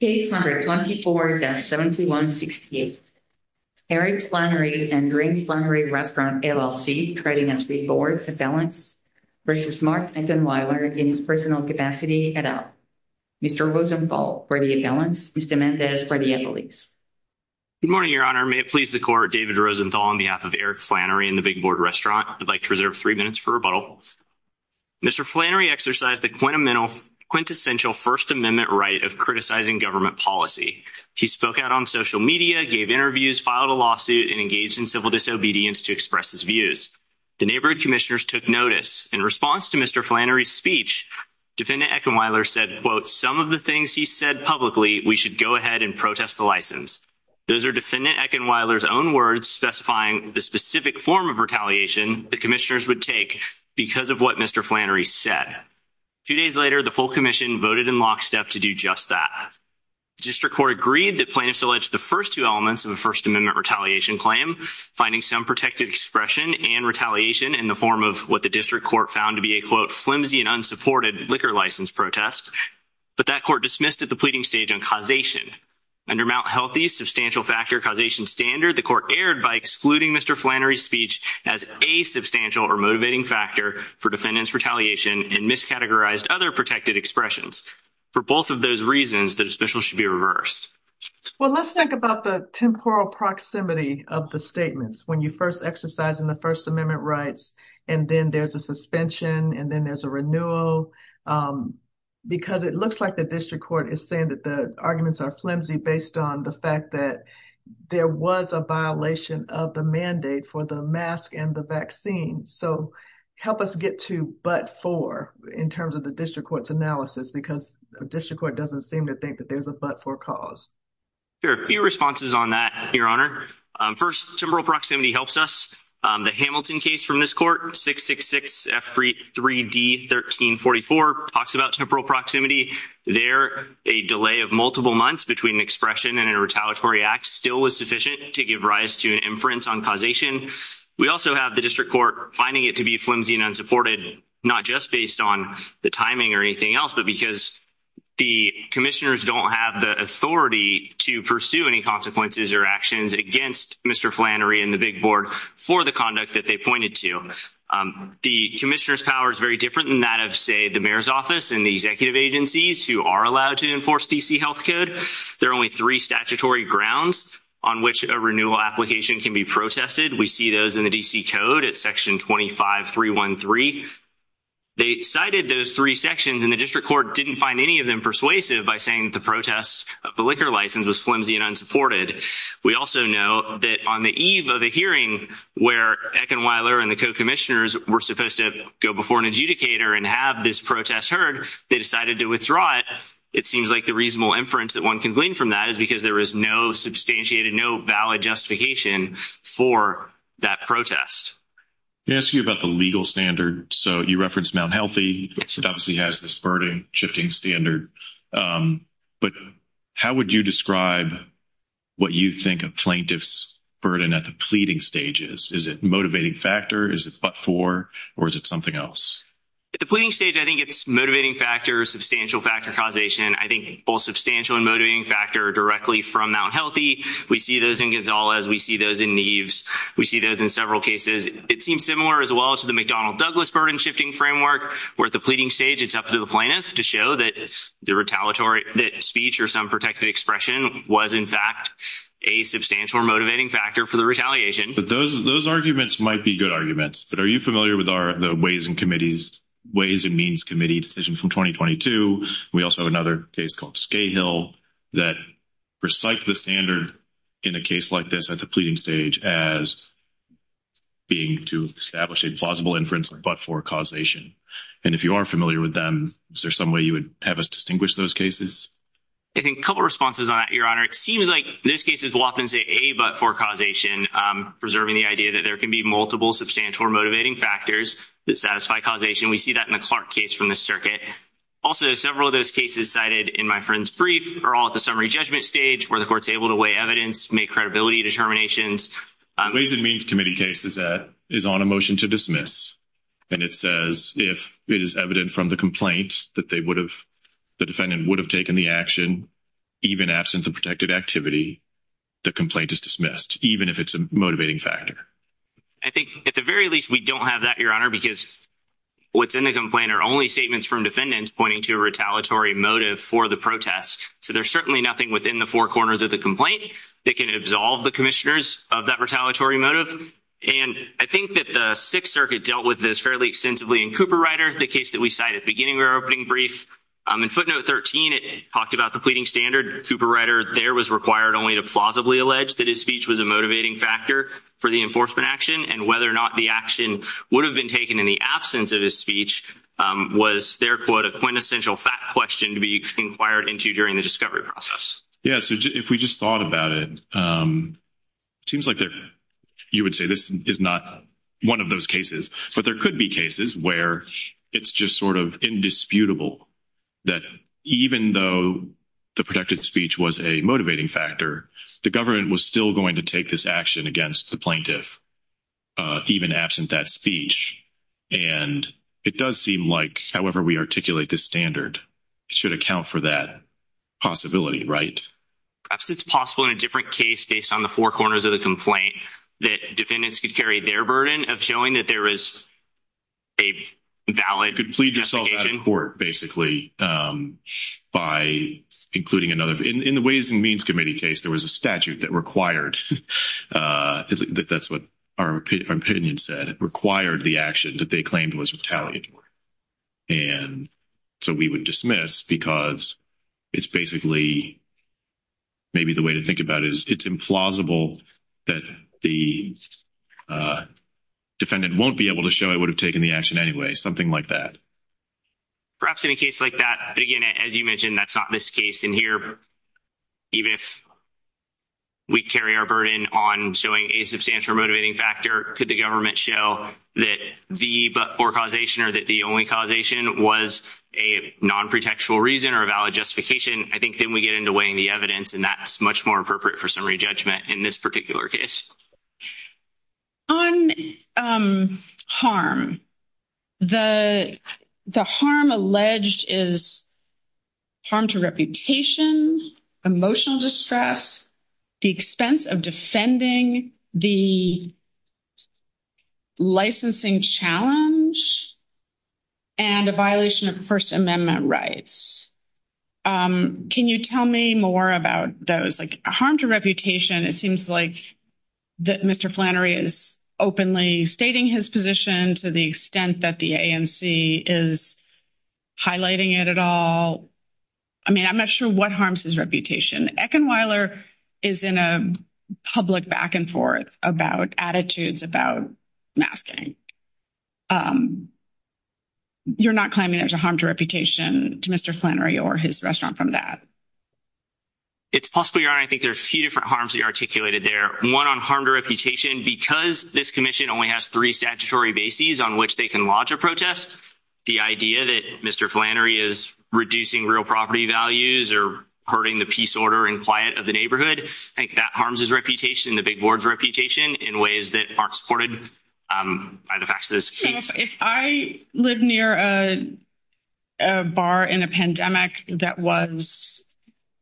Case number 24-7168. Eric Flannery and Rick Flannery Restaurant LLC trading as Big Board Appellants versus Mark Eckenwiler in his personal capacity et al. Mr. Rosenthal for the Appellants, Mr. Mendez for the Appellates. Good morning, Your Honor. May it please the Court, David Rosenthal on behalf of Eric Flannery and the Big Board Restaurant. I'd like to reserve three minutes for rebuttal. Mr. Flannery exercised the quintessential First Amendment right of criticizing government policy. He spoke out on social media, gave interviews, filed a lawsuit, and engaged in civil disobedience to express his views. The neighborhood commissioners took notice. In response to Mr. Flannery's speech, Defendant Eckenwiler said, quote, some of the things he said publicly we should go ahead and protest the license. Those are Defendant Eckenwiler's own words specifying the specific form of retaliation the commissioners would take because of what Mr. Flannery said. Two days later, the full commission voted in lockstep to do just that. The district court agreed that plaintiffs alleged the first two elements of a First Amendment retaliation claim, finding some protected expression and retaliation in the form of what the district court found to be a, quote, flimsy and unsupported liquor license protest. But that court dismissed at the pleading stage on causation. Under Mt. Healthy's substantial factor causation standard, the court erred by excluding Mr. Flannery's speech as a substantial or motivating factor for defendant's retaliation and miscategorized other protected expressions. For both of those reasons, the dismissal should be reversed. Well, let's think about the temporal proximity of the statements when you first exercise in the First Amendment rights, and then there's a suspension, and then there's a renewal. Because it looks like the district court is saying that the arguments are flimsy based on the fact that there was a violation of the mandate for the mask and the vaccine. So help us get to but for in terms of the district court's analysis, because the district court doesn't seem to think that there's a but for cause. There are a few responses on that, Your Honor. First, temporal proximity helps us. The Hamilton case from this court, 666-3D-1344, talks about temporal proximity. There, a delay of multiple months between an expression and a retaliatory act still was sufficient to give rise to an inference on causation. We also have the district court finding it to be flimsy and unsupported, not just based on the timing or anything else, but because the commissioners don't have the authority to pursue any consequences or actions against Mr. Flannery and the big board for the conduct that they pointed to. The commissioner's power is very different than that of, say, the mayor's office and the executive agencies who are allowed to enforce D.C. health code. There are only three statutory grounds on which a renewal application can be protested. We see those in the D.C. code at section 25-313. They cited those three sections, and the district court didn't find any of them persuasive by saying that the protest of the liquor license was flimsy and unsupported. We also know that on the eve of a hearing where Eckenweiler and the co-commissioners were supposed to go before an adjudicator and have this protest heard, they decided to withdraw it. It seems like the reasonable inference that one can glean from that is because there is no substantiated, no valid justification for that protest. Let me ask you about the legal standard. You referenced Mount Healthy. It obviously has this burden-shifting standard. How would you describe what you think a plaintiff's burden at the pleading stage is? Is it motivating factor? Is it but-for? Or is it something else? At the pleading stage, I think it's motivating factor, substantial factor causation. I think both substantial and motivating factor directly from Mount Healthy. We see those in Gonzalez. We see those in Neves. We see those in several cases. It seems similar as well to the McDonnell Douglas burden-shifting framework, where at the pleading stage, it's up to the plaintiff to show that the retaliatory speech or some protected expression was, in fact, a substantial motivating factor for the retaliation. But those arguments might be good arguments. But are you familiar with the Ways and Means Committee decision from 2022? We also have another case called Scahill that recited the standard in a case like this at the pleading stage as being to establish a plausible inference or but-for causation. And if you are familiar with them, is there some way you would have us distinguish those cases? I think a couple of responses on that, it seems like these cases will often say a but-for causation, preserving the idea that there can be multiple substantial or motivating factors that satisfy causation. We see that in the Clark case from the circuit. Also, several of those cases cited in my friend's brief are all at the summary judgment stage where the court's able to weigh evidence, make credibility determinations. Ways and Means Committee case is on a motion to dismiss. And it says if it is evident from the complaint that the defendant would have taken the action, even absent the protected activity, the complaint is dismissed, even if it's a motivating factor. I think at the very least, we don't have that, Your Honor, because what's in the complaint are only statements from defendants pointing to a retaliatory motive for the protest. So there's certainly nothing within the four corners of the complaint that can absolve the commissioners of that retaliatory motive. And I think that the Sixth Circuit dealt with this fairly extensively in Cooperrider, the case that we cited at the beginning of our opening brief. In footnote 13, it talked about the pleading standard. Cooperrider there was required only to plausibly allege that his speech was a motivating factor for the enforcement action. And whether or not the action would have been taken in the absence of his speech was, therefore, a quintessential fact question to be inquired into during the discovery process. Yeah, so if we just thought about it, it seems like you would say this is not one of those cases. But there could be cases where it's just sort of indisputable that even though the protected speech was a motivating factor, the government was still going to take this action against the plaintiff even absent that speech. And it does seem like however we articulate this standard should account for that possibility, right? Perhaps it's possible in a different case based on the four corners of the complaint that defendants could carry their burden of showing that there is a valid investigation. You could plead yourself out of court basically by including another. In the Ways and Means Committee case, there was a statute that required, that's what our opinion said, required the action that they claimed was retaliatory. And so we would dismiss because it's basically maybe the way to think about it is it's implausible that the defendant won't be able to show it would have taken the action anyway, something like that. Perhaps in a case like that, again, as you mentioned, that's not this case in here. Even if we carry our burden on showing a substantial motivating factor, could the government show that the but-for causation or that the only causation was a non-pretextual reason or a valid justification? I think then we get into weighing the evidence and that's much more appropriate for summary judgment in this particular case. On harm, the harm alleged is harm to reputation, emotional distress, the expense of offending, the licensing challenge, and a violation of First Amendment rights. Can you tell me more about those? Like harm to reputation, it seems like that Mr. Flannery is openly stating his position to the extent that the ANC is highlighting it at all. I mean, I'm not sure what harms his reputation. Eckenweiler is in a public back and forth about attitudes about masking. You're not claiming there's a harm to reputation to Mr. Flannery or his restaurant from that? It's possible, Your Honor. I think there are a few different harms he articulated there. One on harm to reputation, because this commission only has three statutory bases on which they can lodge a protest, the idea that Mr. Flannery is reducing real property values or hurting the peace, order, and quiet of the neighborhood. I think that harms his reputation, the big board's reputation, in ways that aren't supported by the facts of this case. If I live near a bar in a pandemic that was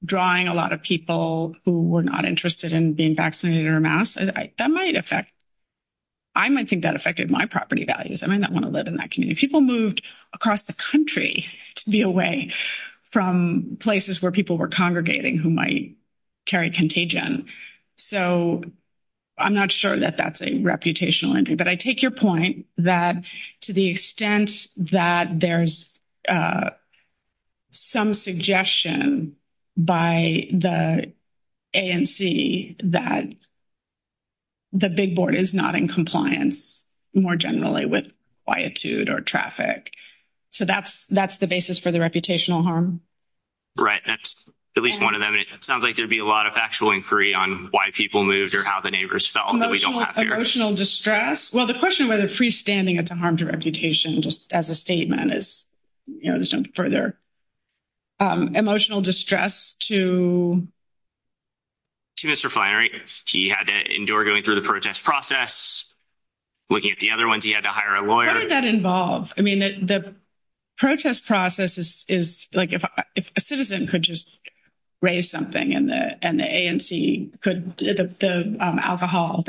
drawing a lot of people who were not interested in being vaccinated or masked, I might think that affected my property values. I might not want to from places where people were congregating who might carry contagion. So, I'm not sure that that's a reputational injury. But I take your point that to the extent that there's some suggestion by the ANC that the big board is not in compliance more generally with traffic. So, that's the basis for the reputational harm. Right. That's at least one of them. It sounds like there'd be a lot of factual inquiry on why people moved or how the neighbors felt. Emotional distress. Well, the question whether freestanding it's a harm to reputation just as a statement is, you know, this jumped further. Emotional distress to Mr. Flannery. He had to endure going through the protest process, looking at the other ones. He had to hire a lawyer. What did that involve? I mean, the protest process is like if a citizen could just raise something and the ANC could, the alcohol,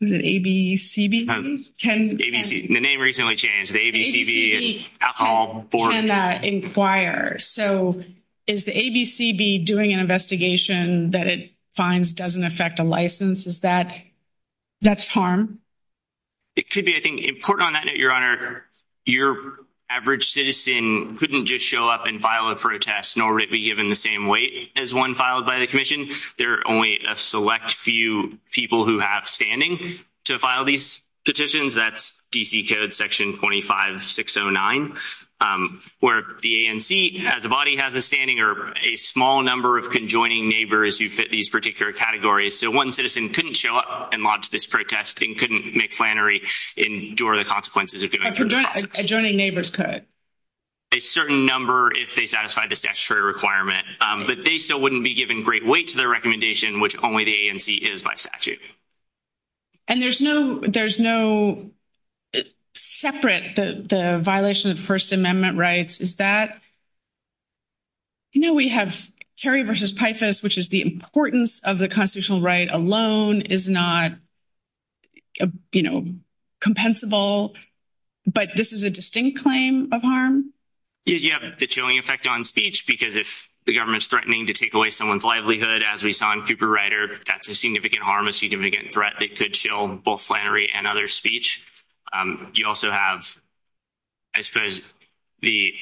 is it ABCB? The name recently changed. The ABCB Alcohol Board. So, is the ABCB doing an investigation that it finds doesn't affect a license? Is that, that's harm? It could be. I think important on that note, Your Honor, your average citizen couldn't just show up and file a protest nor be given the same weight as one filed by the commission. There are only a select few people who have standing to file these petitions. That's DC code section 25609 where the ANC has a body, has a standing, or a small number of conjoining neighbors who fit these particular categories. So, one citizen couldn't show up and launch this protest and couldn't make Flannery endure the consequences. Adjoining neighbors could. A certain number if they satisfy the statutory requirement, but they still wouldn't be given great weight to their recommendation, which only the ANC is by statute. And there's no, there's no separate, the violation of the statute. You know, we have Kerry versus Pifus, which is the importance of the constitutional right alone is not, you know, compensable, but this is a distinct claim of harm. You have the chilling effect on speech because if the government's threatening to take away someone's livelihood, as we saw in Cooper Rider, that's a significant harm, a significant threat that could kill both Flannery and other speech. You also have, I suppose, the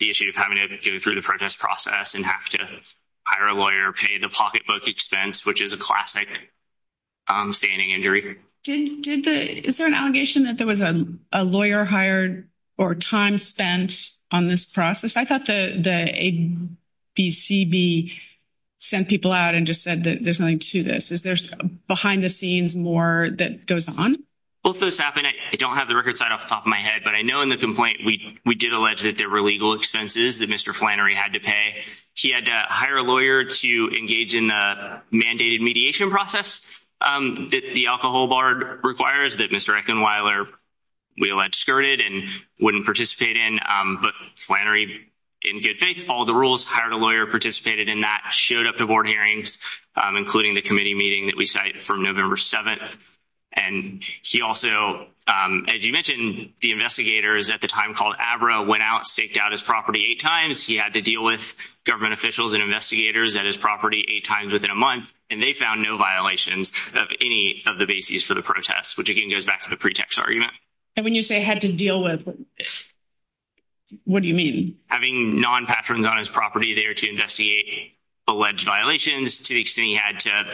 issue of having to go through the protest process and have to hire a lawyer, pay the pocketbook expense, which is a classic standing injury. Did the, is there an allegation that there was a lawyer hired or time spent on this process? I thought the ABCB sent people out and just said that there's to this. Is there behind the scenes more that goes on? Well, if this happened, I don't have the record side off the top of my head, but I know in the complaint, we did allege that there were legal expenses that Mr. Flannery had to pay. He had to hire a lawyer to engage in the mandated mediation process that the alcohol bar requires that Mr. Eckenweiler, we allege, skirted and wouldn't participate in. But Flannery, in good faith, followed the rules, hired a lawyer, participated in that, showed up to board hearings, including the committee meeting that we cite from November 7th. And he also, as you mentioned, the investigators at the time called ABRA went out, staked out his property eight times. He had to deal with government officials and investigators at his property eight times within a month, and they found no violations of any of the bases for the protest, which again goes back to the pretext argument. And when you say had to deal with, what do you mean? Having non-patrons on his property there to investigate alleged violations to the extent he had to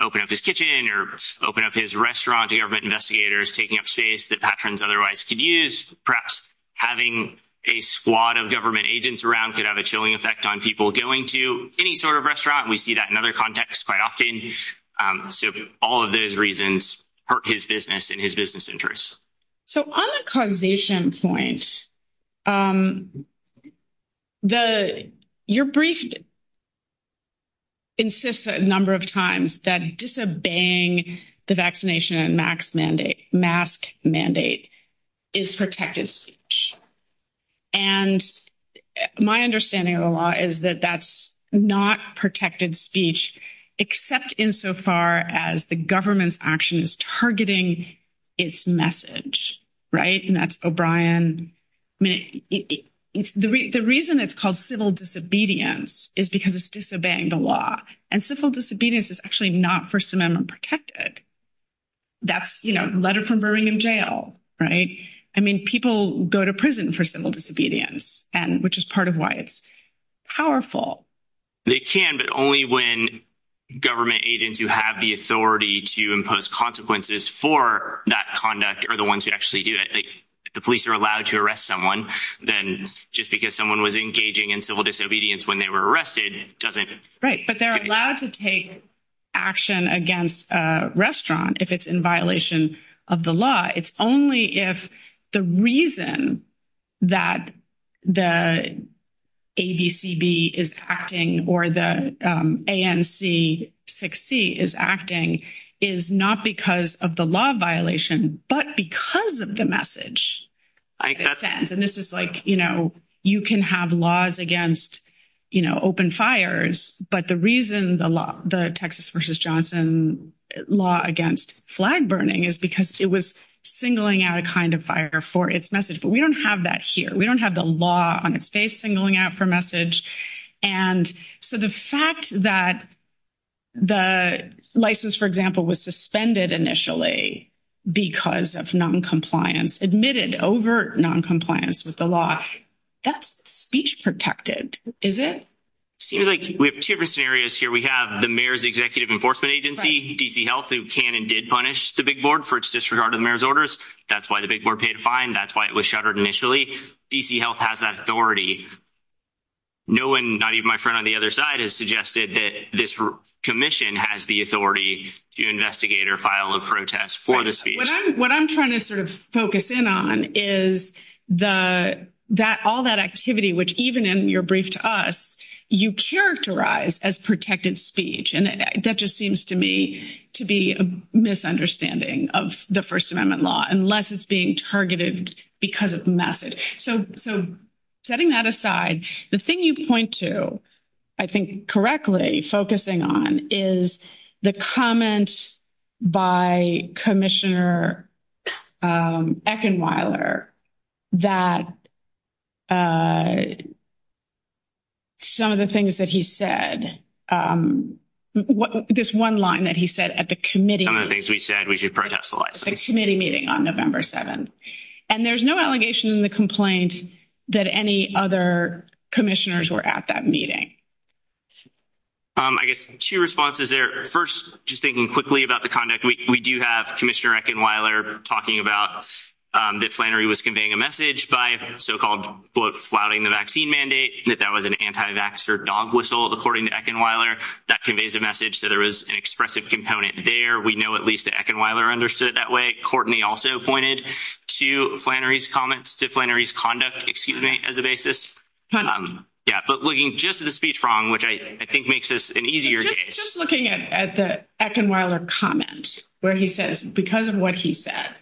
open up his kitchen or open up his restaurant to government investigators, taking up space that patrons otherwise could use. Perhaps having a squad of government agents around could have a chilling effect on people going to any sort of restaurant. We see that in other contexts quite often. So all of those reasons hurt his business and his business interests. So on the causation point, your brief insists a number of times that disobeying the vaccination and mask mandate is protected speech. And my understanding of the law is that that's not protected speech, except insofar as the action is targeting its message. And that's O'Brien. The reason it's called civil disobedience is because it's disobeying the law. And civil disobedience is actually not First Amendment protected. That's a letter from Birmingham jail. People go to prison for civil disobedience, which is part of why it's powerful. They can, but only when government agents who have the authority to impose consequences for that conduct are the ones who actually do it. If the police are allowed to arrest someone, then just because someone was engaging in civil disobedience when they were arrested doesn't. Right. But they're allowed to take action against a restaurant if it's in violation of the law. It's only if the reason that the ABCB is acting or the ANC 6C is acting is not because of the law violation, but because of the message. And this is like, you know, you can have laws against, you know, open fires. But the reason the Texas versus Johnson law against flag burning is because it was singling out a kind of fire for its message. But we don't have that here. We don't have the law on its face singling out for message. And so the fact that the license, for example, was suspended initially because of noncompliance, admitted overt noncompliance with the law, that's speech protected, is it? Seems like we have two different scenarios here. We have the Executive Enforcement Agency, D.C. Health, who can and did punish the big board for its disregard of the mayor's orders. That's why the big board paid a fine. That's why it was shuttered initially. D.C. Health has that authority. No one, not even my friend on the other side, has suggested that this commission has the authority to investigate or file a protest for the speech. What I'm trying to sort of focus in on is all that activity, which even in your brief to us, you characterize as protected speech. And that just seems to me to be a misunderstanding of the First Amendment law, unless it's being targeted because of the message. So setting that aside, the thing you point to, I think correctly focusing on, is the comment by Commissioner Eckenweiler that some of the things that he said, this one line that he said at the committee meeting on November 7th. And there's no allegation in the complaint that any other commissioners were at that meeting. I guess two responses there. First, just thinking quickly about the conduct, we do have Commissioner Eckenweiler talking about that Flannery was conveying a message by so-called, quote, flouting the vaccine mandate, that that was an anti-vaxxer dog whistle, according to Eckenweiler. That conveys a message, so there was an expressive component there. We know at least that Eckenweiler understood it that way. Courtney also pointed to Flannery's comments, to Flannery's conduct, excuse me, as a basis. Yeah, but looking just at the speech wrong, which I think makes this an easier case. Just looking at the Eckenweiler comment, where he says, because of what he said,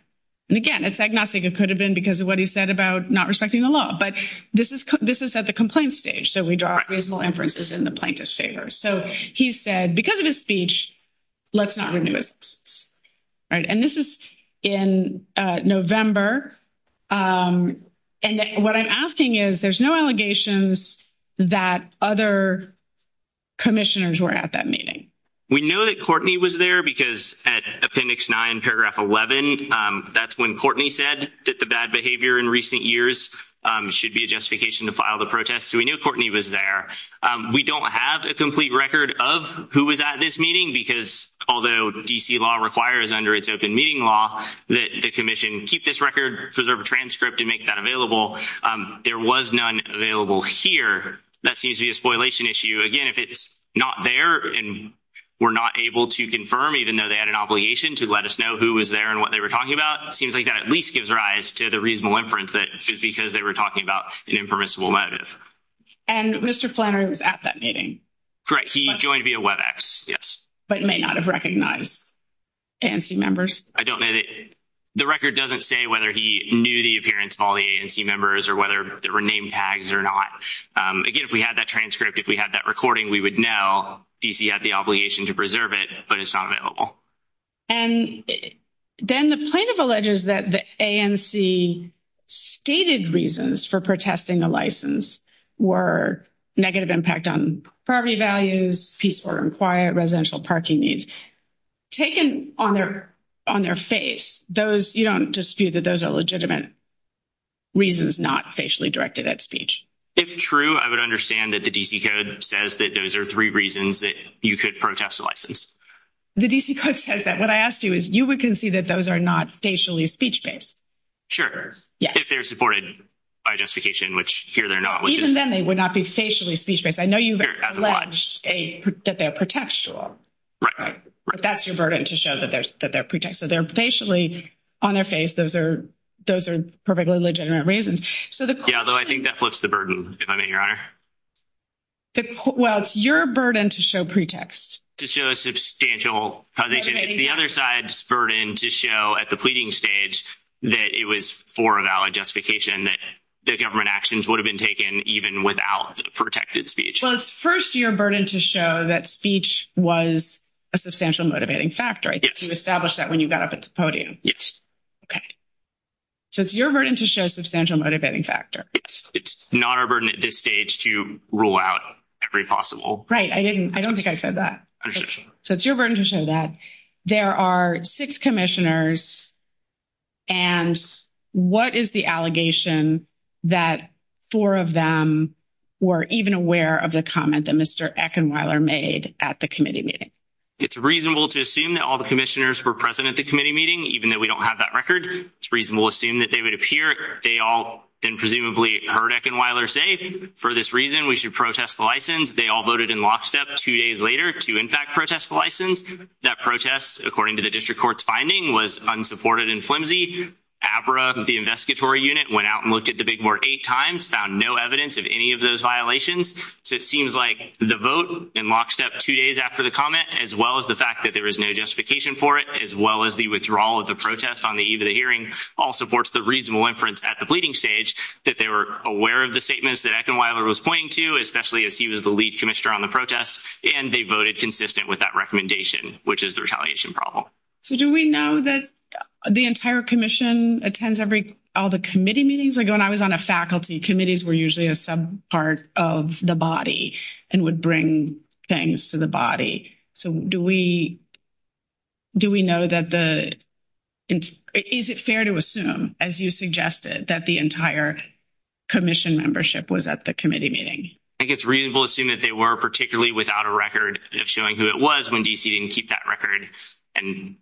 and again, it's agnostic, it could have been because of what he said about not respecting the law. But this is at the complaint stage, so we draw reasonable inferences in the plaintiff's favor. So he said, because of his speech, let's not renew his license. And this is in November. And what I'm asking is, there's no allegations that other commissioners were at that meeting. We know that Courtney was there, because at Appendix 9, Paragraph 11, that's when Courtney said that the bad behavior in recent years should be a justification to file the protest. So we knew Courtney was there. We don't have a complete record of who was at this meeting, because although D.C. law requires under its open meeting law that the commission keep this record, preserve a transcript, and make that available, there was none available here. That seems to be a spoilation issue. Again, if it's not there and we're not able to confirm, even though they had an obligation to let us know who was there and what they were talking about, it seems like that at least gives rise to the reasonable inference that it's because they were talking about an impermissible motive. And Mr. Flannery was at that meeting. Correct. He joined via WebEx, yes. But may not have recognized ANC members. I don't know. The record doesn't say whether he knew the appearance of all the ANC members or whether there were name tags or not. Again, if we had that transcript, if we had that recording, we would know D.C. had the obligation to preserve it, but it's not available. And then the plaintiff alleges that the ANC stated reasons for protesting a license were negative impact on property values, peaceful and quiet, residential parking needs. Taken on their face, you don't dispute that those are legitimate reasons not facially directed at speech. If true, I would understand that the D.C. Code says that those are three reasons that you could protest a license. The D.C. Code says that. What I asked you is you would concede that those are not facially speech-based. Sure. If they're supported by justification, which here they're not. Even then, they would not be facially speech-based. I know you've alleged that they're pretextual. Right. Right. But that's your burden to show that they're pretext. So they're facially on their face. Those are perfectly legitimate reasons. Yeah, although I think that flips the burden, if I may, Your Honor. Well, it's your burden to show pretext. To show a substantial causation. It's the other side's burden to show at the pleading stage that it was for a valid justification that the government actions would have been taken even without the protected speech. Well, it's first your burden to show that speech was a substantial motivating factor. I think you established that when you got up at the podium. Yes. Okay. So it's your burden to show substantial motivating factor. It's not our burden at this stage to rule out every possible. Right. I don't think I said that. So it's your burden to show that. There are six commissioners, and what is the allegation that four of them were even aware of the comment that Mr. Eckenweiler made at the committee meeting? It's reasonable to assume that all the commissioners were present at the committee meeting, even though we don't have that record. It's reasonable to assume that they would appear. They all then presumably heard Eckenweiler say, for this reason, we should protest the license. They all voted in lockstep two days later to, in fact, protest the license. That protest, according to the district court's finding, was unsupported and flimsy. ABRA, the investigatory unit, went out and looked at the Big Board eight times, found no evidence of any of those violations. So it seems like the vote in lockstep two days after the comment, as well as the fact that there was no justification for it, as well as the withdrawal of the protest on the eve of the hearing, all supports the reasonable inference at the pleading stage that they were aware of statements that Eckenweiler was pointing to, especially as he was the lead commissioner on the protest, and they voted consistent with that recommendation, which is the retaliation problem. So do we know that the entire commission attends all the committee meetings? Like, when I was on a faculty, committees were usually a subpart of the body and would bring things to the body. So do we know that the – is it fair to assume, as you suggested, that the entire commission membership was at the committee meeting? I think it's reasonable to assume that they were, particularly without a record of showing who it was when D.C. didn't keep that record. And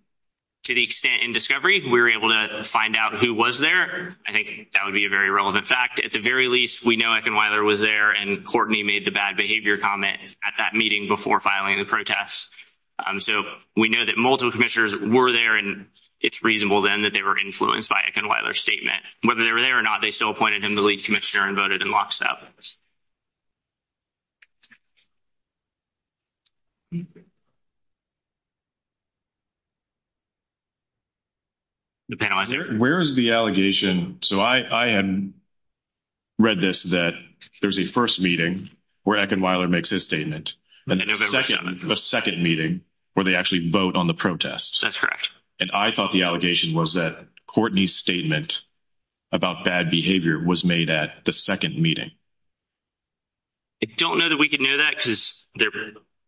to the extent in Discovery, we were able to find out who was there. I think that would be a very relevant fact. At the very least, we know Eckenweiler was there, and Courtney made the bad behavior comment at that meeting before filing the protest. So we know that multiple commissioners were there, and it's reasonable, then, that they were influenced by Eckenweiler's statement. Whether they were there or not, they still appointed him the lead commissioner and voted in lockstep. The panelists here? Where is the allegation – so I had read this, that there's a first meeting where Eckenweiler makes his statement, and a second meeting where they actually vote on the protest. That's correct. And I thought the allegation was that Courtney's statement about bad behavior was made at the second meeting. I don't know that we could know that, because there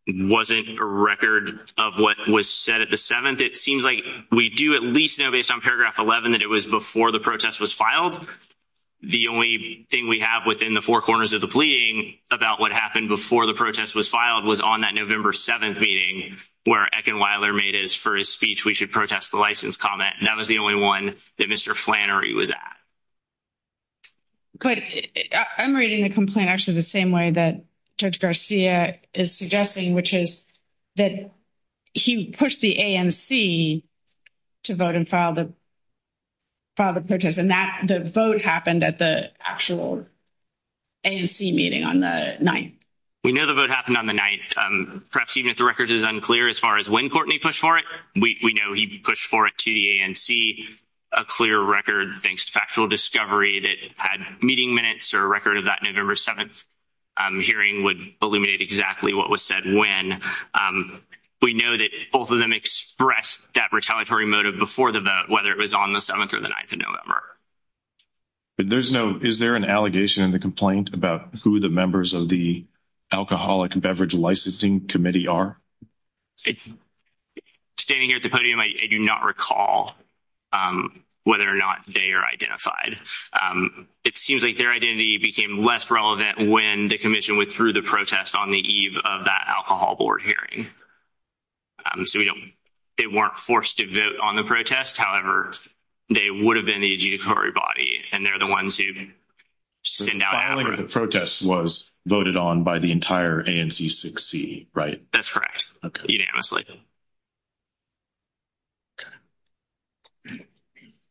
wasn't a record of what was said at the seventh. It seems like we do at least know, based on paragraph 11, that it was before the protest was filed. The only thing we have within the four corners of the pleading about what happened before the protest was filed was on that November 7th meeting, where Eckenweiler made his first speech, we should protest the license comment. That was the only one that Mr. Flannery was at. But I'm reading the complaint actually the same way that Judge Garcia is suggesting, which is that he pushed the ANC to vote and file the protest, and the vote happened at the actual ANC meeting on the 9th. We know the vote happened on the 9th. Perhaps even if the record is unclear as far as when we know he pushed for it to the ANC, a clear record, thanks to factual discovery, that had meeting minutes or a record of that November 7th hearing would illuminate exactly what was said when. We know that both of them expressed that retaliatory motive before the vote, whether it was on the 7th or the 9th of November. Is there an allegation in the complaint about who the members of the Alcoholic Beverage Licensing Committee are? I'm standing here at the podium. I do not recall whether or not they are identified. It seems like their identity became less relevant when the Commission withdrew the protest on the eve of that Alcohol Board hearing. So we don't, they weren't forced to vote on the protest. However, they would have been the adjudicatory body, and they're the ones who send out. The filing of the protest was voted on by the entire ANC 6C, right? That's correct, unanimously.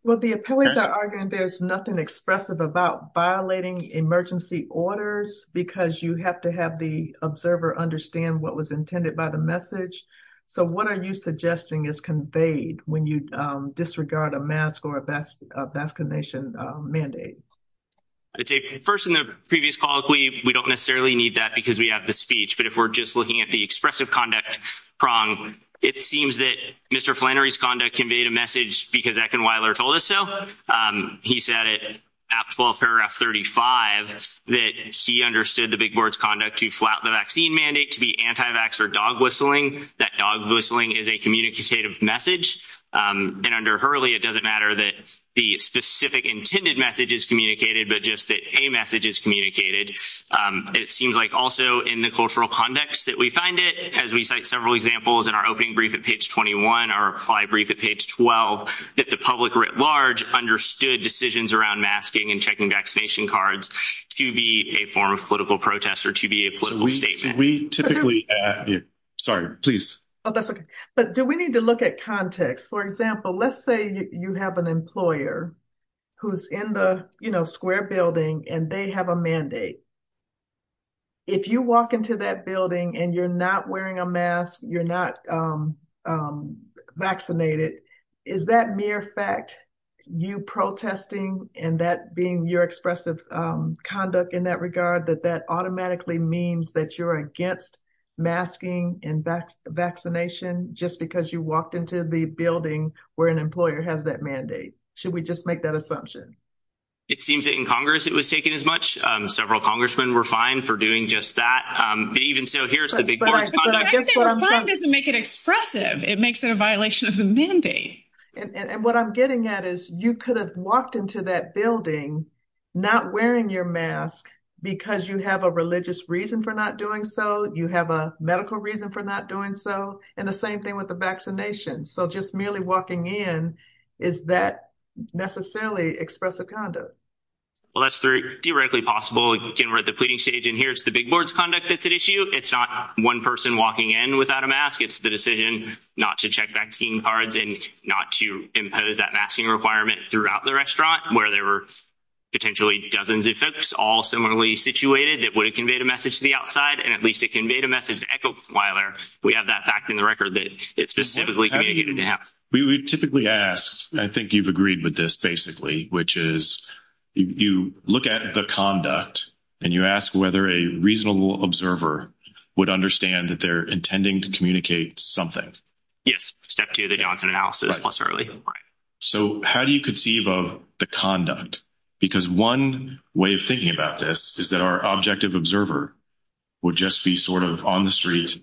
Well, the appellees are arguing there's nothing expressive about violating emergency orders because you have to have the observer understand what was intended by the message. So what are you suggesting is conveyed when you disregard a mask or a vaccination mandate? First, in the previous call, we don't necessarily need that because we have the speech. But if we're just looking at the expressive conduct prong, it seems that Mr. Flannery's conduct conveyed a message because Eckenweiler told us so. He said it at paragraph 35 that he understood the big board's conduct to flat the vaccine mandate to be anti-vax or dog whistling. That dog whistling is a communicative message. And under Hurley, it doesn't matter that the specific intended message is communicated, but just that a message is communicated. It seems like also in the cultural context that we find it, as we cite several examples in our opening brief at page 21, our reply brief at page 12, that the public writ large understood decisions around masking and checking vaccination cards to be a form of political protest or to be a political statement. So we typically—sorry, please. Oh, that's okay. But do we need to look at context? For example, let's say you have an employer who's in the square building and they have a mandate. If you walk into that building and you're not wearing a mask, you're not vaccinated, is that mere fact, you protesting and that being your expressive conduct in that regard, that that automatically means that you're against masking and vaccination just because you walked into the building where an employer has that mandate? Should we just make that assumption? It seems that in Congress, it was taken as much. Several congressmen were fined for doing just that. Even so, here's the big board's conduct. But I guess what I'm trying— The fact that they were fined doesn't make it expressive. It makes it a violation of the And what I'm getting at is you could have walked into that building not wearing your mask because you have a religious reason for not doing so, you have a medical reason for not doing so, and the same thing with the vaccination. So just merely walking in, is that necessarily expressive conduct? Well, that's theoretically possible. Again, we're at the pleading stage, and here's the big board's conduct that's at issue. It's not one person walking in without a mask. It's the decision not to check vaccine cards and not to impose that masking requirement throughout the restaurant where there were potentially dozens of folks all similarly situated that would have conveyed a message to the outside, and at least it conveyed a record that it specifically communicated to have. We would typically ask—I think you've agreed with this, basically—which is you look at the conduct and you ask whether a reasonable observer would understand that they're intending to communicate something. Yes. Step two, they don't. It's an analysis. So how do you conceive of the conduct? Because one way of thinking about this is that our observer would just be sort of on the street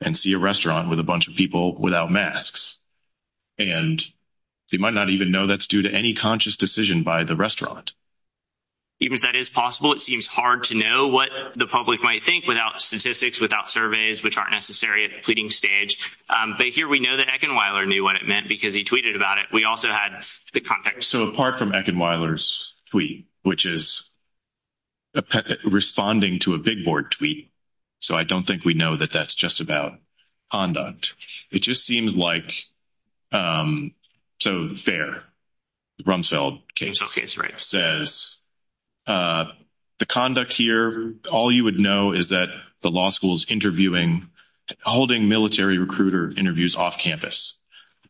and see a restaurant with a bunch of people without masks, and they might not even know that's due to any conscious decision by the restaurant. Even if that is possible, it seems hard to know what the public might think without statistics, without surveys, which aren't necessary at the pleading stage. But here we know that Eckenweiler knew what it meant because he tweeted about it. We also had the context. So apart from Eckenweiler's tweet, which is responding to a big board tweet, so I don't think we know that that's just about conduct. It just seems like—so Fair, the Rumsfeld case, says, the conduct here, all you would know is that the law school is interviewing, holding military recruiter interviews off campus.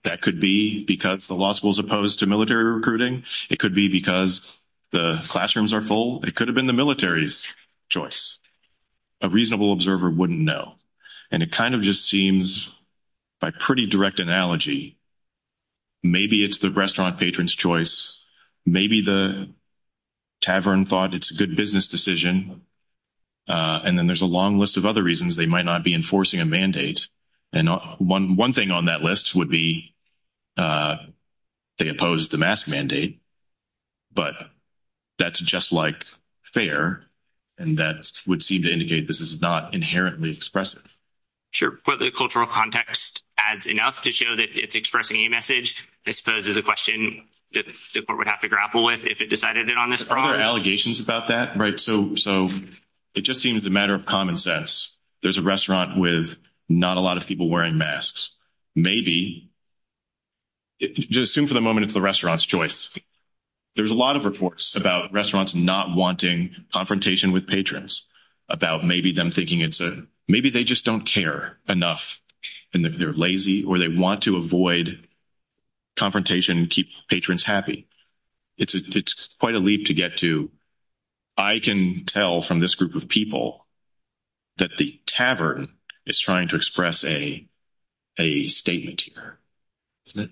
That could be because the law school is opposed to military recruiting. It could be because the classrooms are full. It could have been the military's choice. A reasonable observer wouldn't know. And it kind of just seems, by pretty direct analogy, maybe it's the restaurant patron's choice. Maybe the tavern thought it's a good business decision. And then there's a long list of other reasons they might not be enforcing a mandate. And one thing on that list would be they opposed the mask mandate. But that's just like Fair. And that would seem to indicate this is not inherently expressive. Sure. But the cultural context adds enough to show that it's expressing a message. I suppose there's a question that the court would have to grapple with if it decided it on this front. Are there allegations about that? Right. So it just seems a matter of common sense. There's a restaurant with not a lot of people wearing masks. Maybe just assume for the moment it's the restaurant's choice. There's a lot of reports about restaurants not wanting confrontation with patrons. About maybe them thinking it's a maybe they just don't care enough. And they're lazy or they want to avoid confrontation and keep patrons happy. It's quite a leap to get to. I can tell from this group of people that the tavern is trying to express a statement here. Isn't it?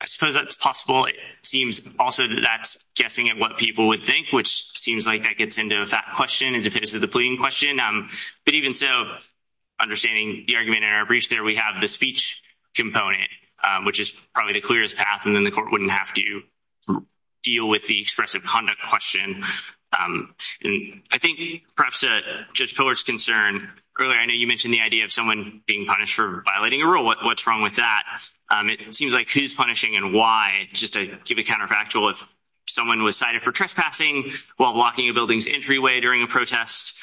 I suppose that's possible. It seems also that that's guessing at what people would think, which seems like that gets into a fat question as opposed to the pleading question. But even so, understanding the argument in our breach there, we have the speech component, which is probably the clearest path. And then the court wouldn't have to deal with the expressive conduct question. And I think perhaps to Judge Pillard's concern earlier, I know you mentioned the idea of someone being punished for violating a rule. What's wrong with that? It seems like who's punishing and why? Just to keep it counterfactual, if someone was cited for trespassing while blocking a building's entryway during a protest,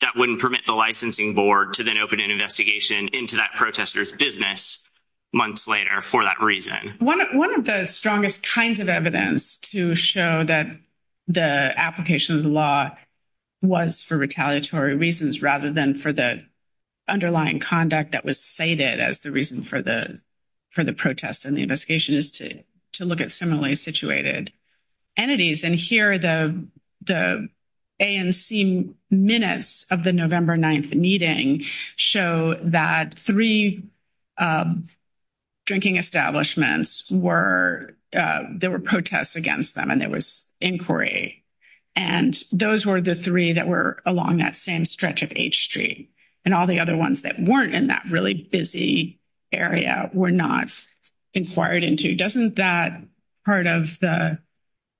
that wouldn't permit the licensing board to then open an investigation into that protester's business months later for that reason. One of the strongest kinds of evidence to show that the application of the law was for retaliatory reasons rather than for the underlying conduct that was cited as the reason for the protest and the investigation is to look at similarly situated entities. And here are the A and C minutes of the November 9th meeting show that three drinking establishments, there were protests against them and there was inquiry. And those were the three that were along that same stretch of H Street. And all the other ones that weren't in that really busy area were not inquired into. Doesn't that part of the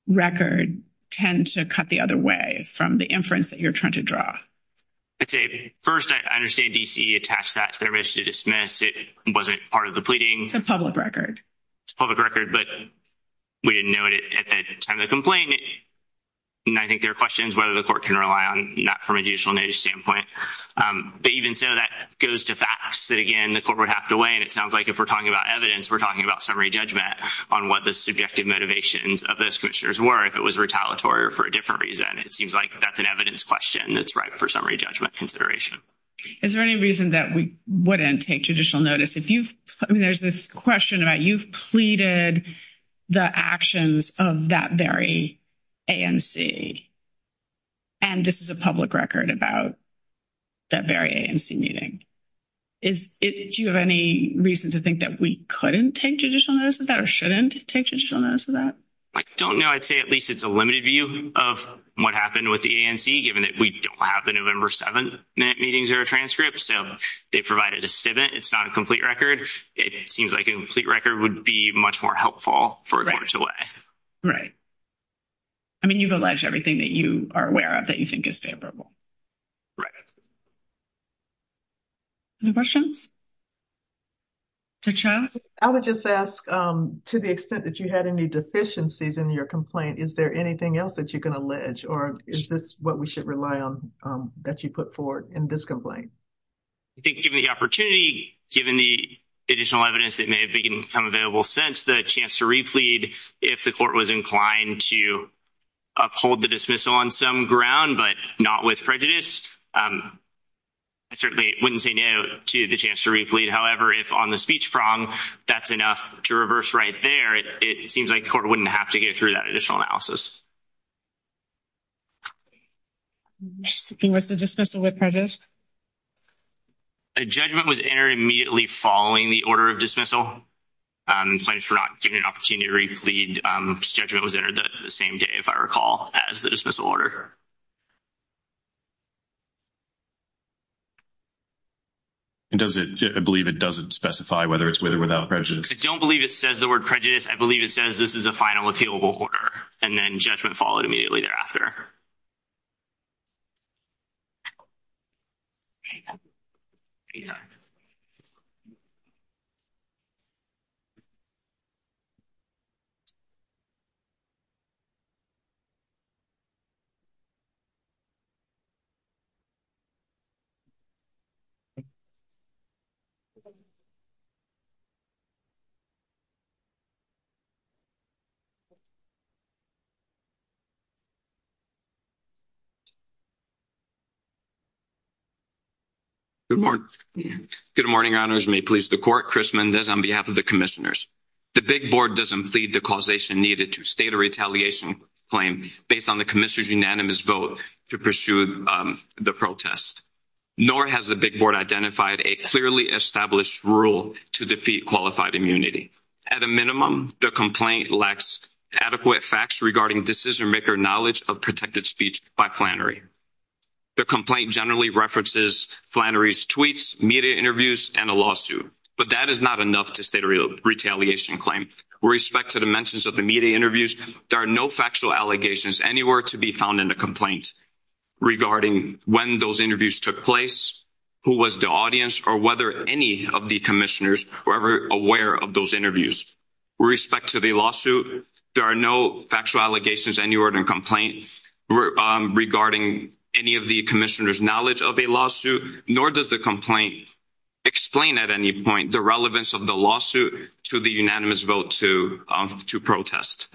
record tend to cut the other way from the inference that you're trying to draw? I'd say, first, I understand D.C. attached that to their wish to dismiss. It wasn't part of the pleading. It's a public record. It's a public record, but we didn't know it at the time of the complaint. And I think there are questions whether the court can rely on not from a judicial nature standpoint. But even so, that goes to facts that, again, the court would have to weigh. And it sounds like if we're talking about evidence, we're talking about summary judgment on what the subjective motivations of those commissioners were if it was retaliatory or for a different reason. It seems like that's an evidence question that's ripe for summary judgment consideration. Is there any reason that we wouldn't take judicial notice? If you've, I mean, there's this question about you've pleaded the actions of that very ANC. And this is a public record about that very ANC meeting. Do you have any reason to think that we couldn't take judicial notice of that or shouldn't take judicial notice of that? I don't know. I'd say at least it's a limited view of what happened with the ANC, given that we don't have the November 7th meetings or transcripts. So they provided a statement. It's not a complete record. It seems like a complete record would be much more helpful for a court to weigh. Right. I mean, you've alleged everything that you are aware of that you think is favorable. Right. Any questions? Judge Chavez? I would just ask, to the extent that you had any deficiencies in your complaint, is there anything else that you can allege? Or is this what we should rely on that you put forward in this complaint? I think given the opportunity, given the additional evidence that may have become available since the chance to replead, if the court was inclined to uphold the dismissal on some ground, but not with prejudice, I certainly wouldn't say no to the chance to replead. However, if on the speech prong, that's enough to reverse right there, it seems like the court wouldn't have to get through that additional analysis. Was the dismissal with prejudice? A judgment was entered immediately following the order of dismissal. Plaintiffs were not given an opportunity to replead. Judgment was entered the same day, if I recall, as the dismissal order. And does it, I believe it doesn't specify whether it's with or without prejudice. I don't believe it says the word prejudice. I believe it says this is a final appealable order, and then judgment followed immediately thereafter. Good morning. Good morning, honors. May it please the court. Chris Mendez on behalf of the commissioners. The big board doesn't plead the causation needed to state a retaliation claim based on the commissioner's unanimous vote to pursue the protest, nor has the big board identified a clearly established rule to defeat qualified immunity. At a minimum, the complaint lacks adequate facts regarding decision-maker knowledge of protected speech by Flannery. The complaint generally references Flannery's tweets, media interviews, and a lawsuit. But that is not enough to state a retaliation claim. With respect to the mentions of the media interviews, there are no factual allegations anywhere to be found in the complaint regarding when those interviews took place, who was the audience, or whether any of the commissioners were ever aware of those interviews. With respect to the lawsuit, there are no factual allegations anywhere in the complaint regarding any of the commissioners' knowledge of a lawsuit, nor does the complaint explain at any point the relevance of the lawsuit to the unanimous vote to protest.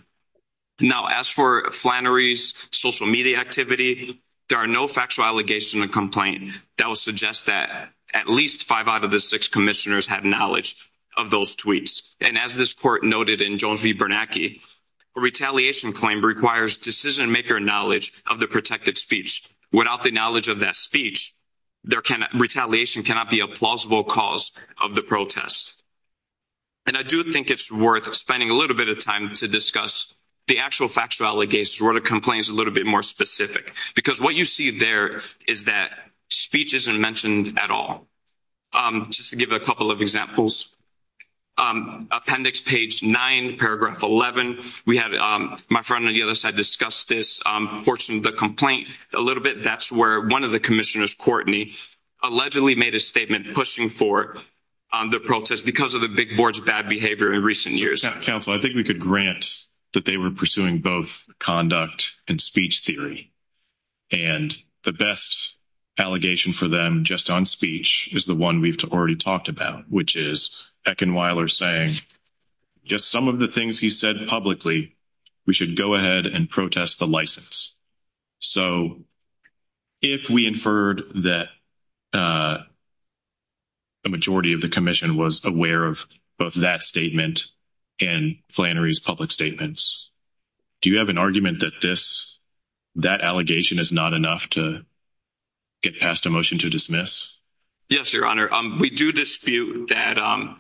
Now, as for Flannery's social media activity, there are no factual allegations in the complaint that would suggest that at least five out of the six commissioners had knowledge of those tweets. And as this court noted in Jones v. Bernanke, a retaliation claim requires decision-maker knowledge of the protected speech. Without the knowledge of that speech, retaliation cannot be a plausible cause of the protest. And I do think it's worth spending a little bit of time to discuss the actual factual allegations where the complaint is a little bit more specific. Because what you see there is that speech isn't mentioned at all. Just to give a couple of examples, appendix page 9, paragraph 11, we had my friend on the other side discuss this portion of the complaint a little bit. That's where one of the commissioners, Courtney, allegedly made a statement pushing for the protest because of the big board's bad behavior in recent years. Counsel, I think we could grant that they were pursuing both conduct and speech theory. And the best allegation for them just on speech is the one we've already talked about, which is Eckenweiler saying just some of the things he said publicly, we should go ahead and protest the license. So if we inferred that the majority of the commission was aware of both that statement and Flannery's public statements, do you have an argument that that allegation is not enough to get passed a motion to dismiss? Yes, Your Honor. We do dispute that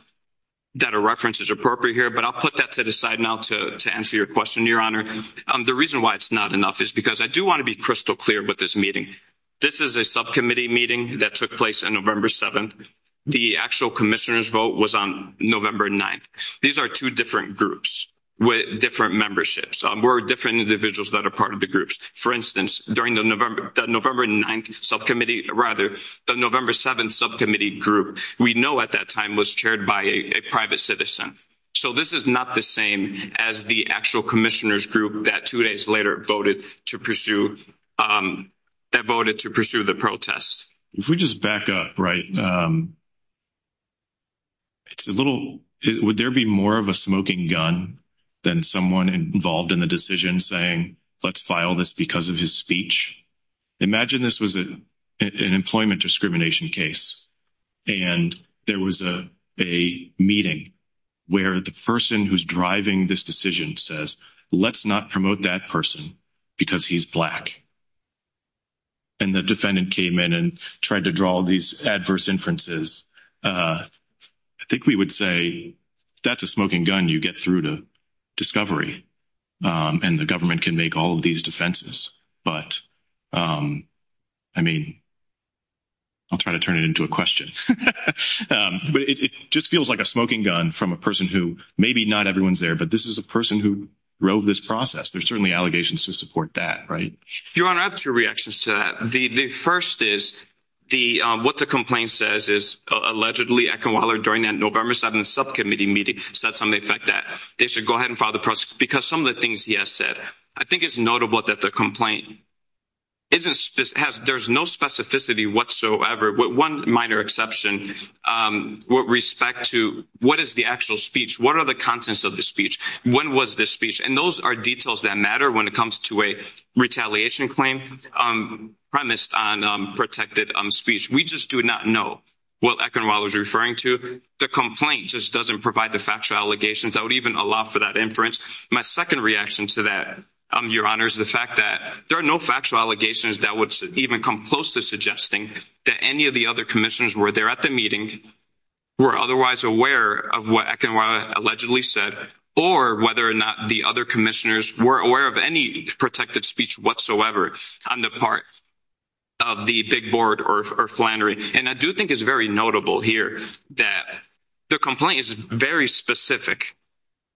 a reference is appropriate here, but I'll put that to the side now to answer your question, Your Honor. The reason why it's not enough is because I do want to be crystal clear with this meeting. This is a subcommittee meeting that took place on November 7th. The actual commissioner's vote was on November 9th. These are two different groups with different memberships. We're different individuals that are part of the groups. For instance, during the November 9th subcommittee, rather the November 7th subcommittee group, we know at that time was chaired by a private citizen. So this is not the same as the actual commissioner's group that two days later voted to pursue the protest. If we just back up, right? It's a little, would there be more of a smoking gun than someone involved in the decision saying, let's file this because of his speech? Imagine this was an employment discrimination case, and there was a meeting where the person who's driving this decision says, let's not promote that person because he's Black. And the defendant came in and tried to draw these adverse inferences I think we would say that's a smoking gun you get through to discovery. And the government can make all of these defenses. But I mean, I'll try to turn it into a question. But it just feels like a smoking gun from a person who maybe not everyone's there, but this is a person who drove this process. There's certainly allegations to support that, right? Your Honor, I have two reactions to that. The first is what the complaint says is allegedly Eckenweiler during that November 7th subcommittee meeting said something like that they should go ahead and file the process because some of the things he has said, I think it's notable that the complaint there's no specificity whatsoever. One minor exception with respect to what is the actual speech? What are the contents of the speech? When was this speech? And those are details that matter when it comes to a retaliation claim. Premised on protected speech, we just do not know what Eckenweiler is referring to. The complaint just doesn't provide the factual allegations that would even allow for that inference. My second reaction to that, Your Honor, is the fact that there are no factual allegations that would even come close to suggesting that any of the other commissioners were there at the meeting were otherwise aware of what Eckenweiler allegedly said, or whether or not the other commissioners were aware of any protected speech whatsoever. On the part of the big board or Flannery, and I do think it's very notable here that the complaint is very specific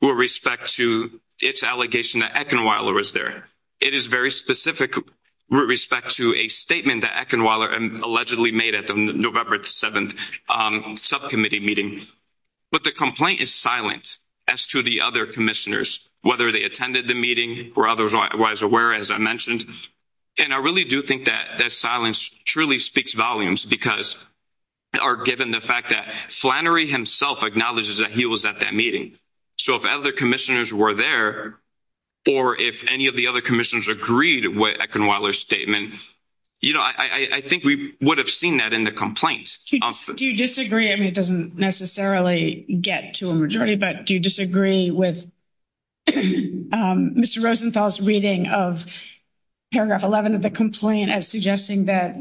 with respect to its allegation that Eckenweiler was there. It is very specific with respect to a statement that Eckenweiler allegedly made at the November 7th subcommittee meeting. But the complaint is silent as to the other commissioners, whether they attended the meeting were otherwise aware, as I mentioned. And I really do think that that silence truly speaks volumes because given the fact that Flannery himself acknowledges that he was at that meeting. So if other commissioners were there, or if any of the other commissioners agreed with Eckenweiler's statement, I think we would have seen that in the complaint. Do you disagree? I mean, it doesn't necessarily get to a majority, but do you disagree with Mr. Rosenthal's reading of paragraph 11 of the complaint as suggesting that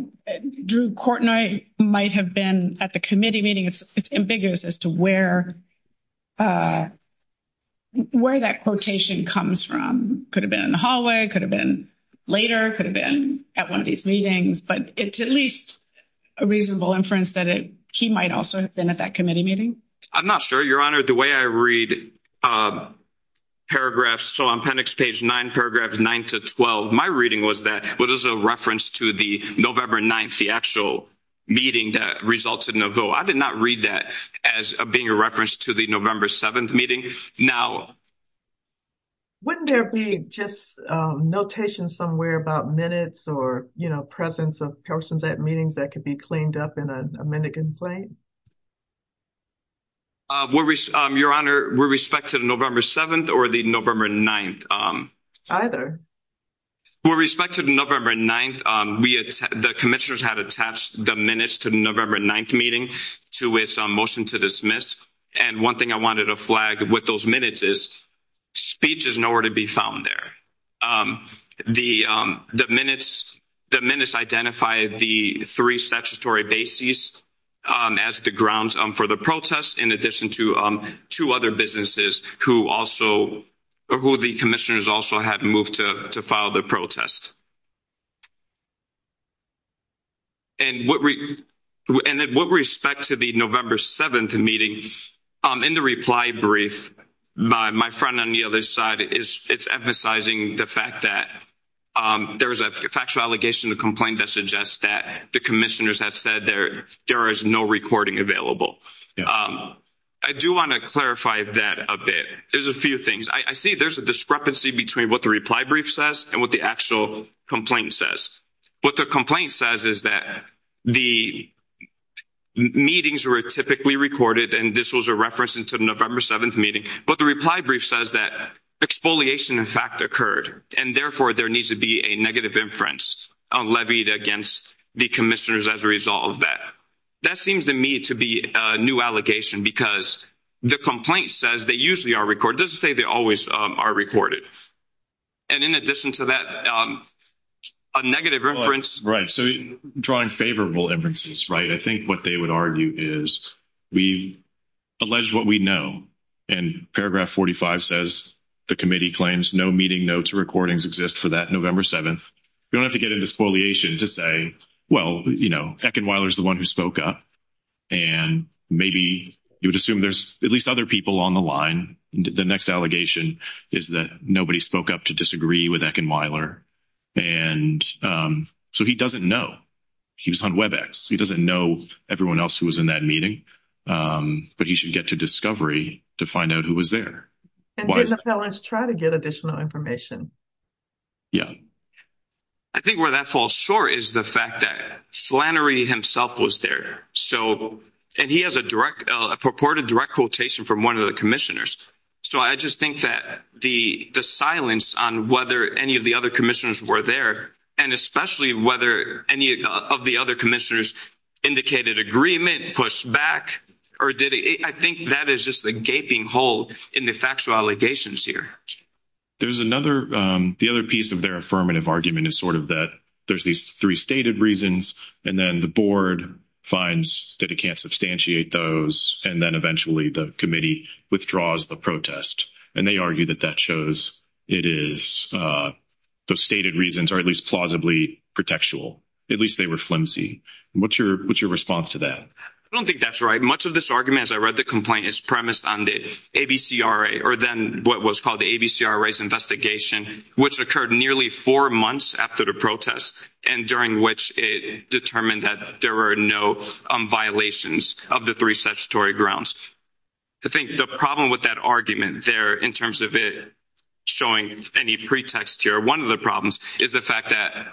Drew Courtenoy might have been at the committee meeting? It's ambiguous as to where that quotation comes from. Could have been in the hallway, could have been later, could have been at one of these he might also have been at that committee meeting? I'm not sure, Your Honor. The way I read paragraphs, so on appendix page 9, paragraph 9 to 12, my reading was that it was a reference to the November 9th, the actual meeting that resulted in a vote. I did not read that as being a reference to the November 7th meeting. Wouldn't there be just notation somewhere about minutes or presence of persons at meetings that could be cleaned up in a minute complaint? Your Honor, with respect to the November 7th or the November 9th? With respect to the November 9th, the commissioners had attached the minutes to the November 9th meeting to its motion to dismiss. And one thing I wanted to flag with those minutes is speech is nowhere to be found there. The minutes identify the three statutory bases as the grounds for the protest in addition to two other businesses who also, or who the commissioners also had moved to file the protest. And with respect to the November 7th meeting, in the reply brief, my friend on the other side, it's emphasizing the fact that there was a factual allegation to complain that suggests that the commissioners had said there is no recording available. I do want to clarify that a bit. There's a few things. I see there's a discrepancy between what the reply brief says and what the actual complaint says. What the complaint says is that the meetings were typically recorded and this was a reference to the November 7th meeting. But the reply brief says that exfoliation, in fact, occurred. And therefore, there needs to be a negative inference levied against the commissioners as a result of that. That seems to me to be a new allegation because the complaint says they usually are recorded. It doesn't say they always are recorded. And in addition to that, a negative reference. So drawing favorable inferences, right? I think what they would argue is we've alleged what we know. And paragraph 45 says the committee claims no meeting notes or recordings exist for that November 7th. You don't have to get into exfoliation to say, well, you know, Ekin Wyler is the one who spoke up. And maybe you would assume there's at least other people on the line. The next allegation is that nobody spoke up to disagree with Ekin Wyler. And so he doesn't know. He was on WebEx. He doesn't know everyone else who was in that meeting. But he should get to discovery to find out who was there. And did the felons try to get additional information? Yeah. I think where that falls short is the fact that Flannery himself was there. And he has a purported direct quotation from one of the commissioners. So I just think that the silence on whether any of the other commissioners were there, and especially whether any of the other commissioners indicated agreement, pushed back, or did it? I think that is just the gaping hole in the factual allegations here. The other piece of their affirmative argument is sort of that there's these three stated reasons. And then the board finds that it can't substantiate those. And then eventually the committee withdraws the protest. And they argue that that shows it is those stated reasons are at least plausibly pretextual. At least they were flimsy. What's your response to that? I don't think that's right. Much of this argument, as I read the complaint, is premised on the ABCRA, or then what was called the ABCRA's investigation, which occurred nearly four months after the protest, and during which it determined that there were no violations of the three statutory grounds. I think the problem with that argument there, in terms of it showing any pretext here, one of the problems is the fact that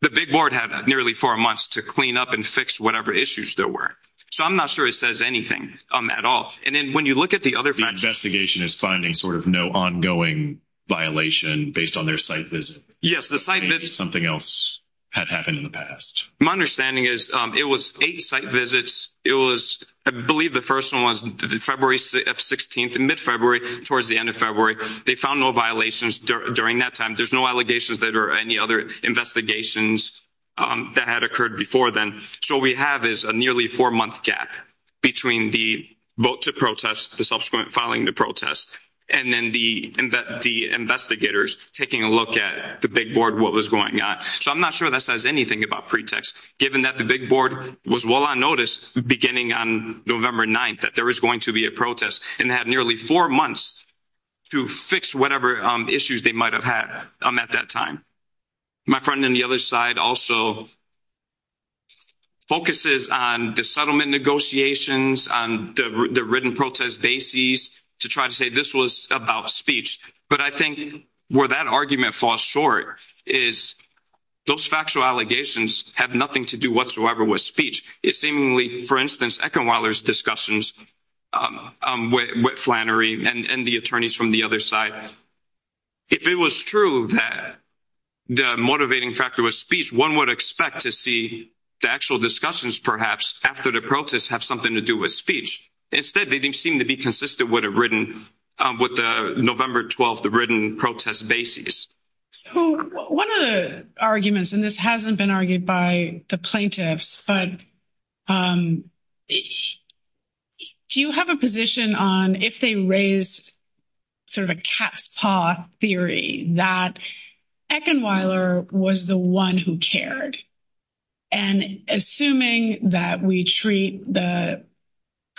the big board had nearly four months to clean up and fix whatever issues there were. So I'm not sure it says anything on that at all. And then when you look at the other facts. The investigation is finding sort of no ongoing violation based on their site visit. Yes, the site visit. Something else had happened in the past. My understanding is it was eight site visits. It was, I believe the first one was February 16th, mid-February, towards the end of February. They found no violations during that time. There's no allegations that there were any other investigations that had occurred before then. So what we have is a nearly four-month gap between the vote to protest, the subsequent filing to protest, and then the investigators taking a look at the big board, what was going on. So I'm not sure that says anything about pretext. Given that the big board was well on notice beginning on November 9th that there was going to be a protest and had nearly four months to fix whatever issues they might have had at that time. My friend on the other side also focuses on the settlement negotiations, on the written protest bases to try to say this was about speech. But I think where that argument falls short is those factual allegations have nothing to do whatsoever with speech. It's seemingly, for instance, Eckenweiler's discussions with Flannery and the attorneys from the other side. If it was true that the motivating factor was speech, one would expect to see the actual discussions perhaps after the protest have something to do with speech. Instead, they didn't seem to be consistent with the November 12th written protest bases. So one of the arguments, and this hasn't been argued by the plaintiffs, but do you have a position on if they raised sort of a cat's paw theory that Eckenweiler was the one who cared? And assuming that we treat the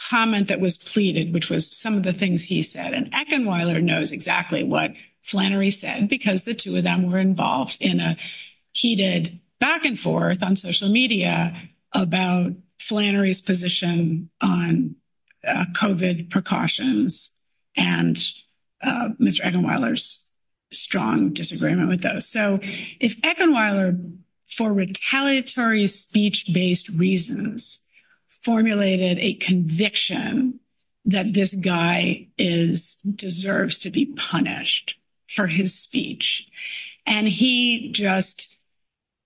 comment that was pleaded, which was some of the things he said, and Eckenweiler knows exactly what Flannery said because the two of them were involved in a heated back and forth on social media about Flannery's position on COVID precautions and Mr. Eckenweiler's strong disagreement with those. If Eckenweiler, for retaliatory speech-based reasons, formulated a conviction that this guy deserves to be punished for his speech, and he just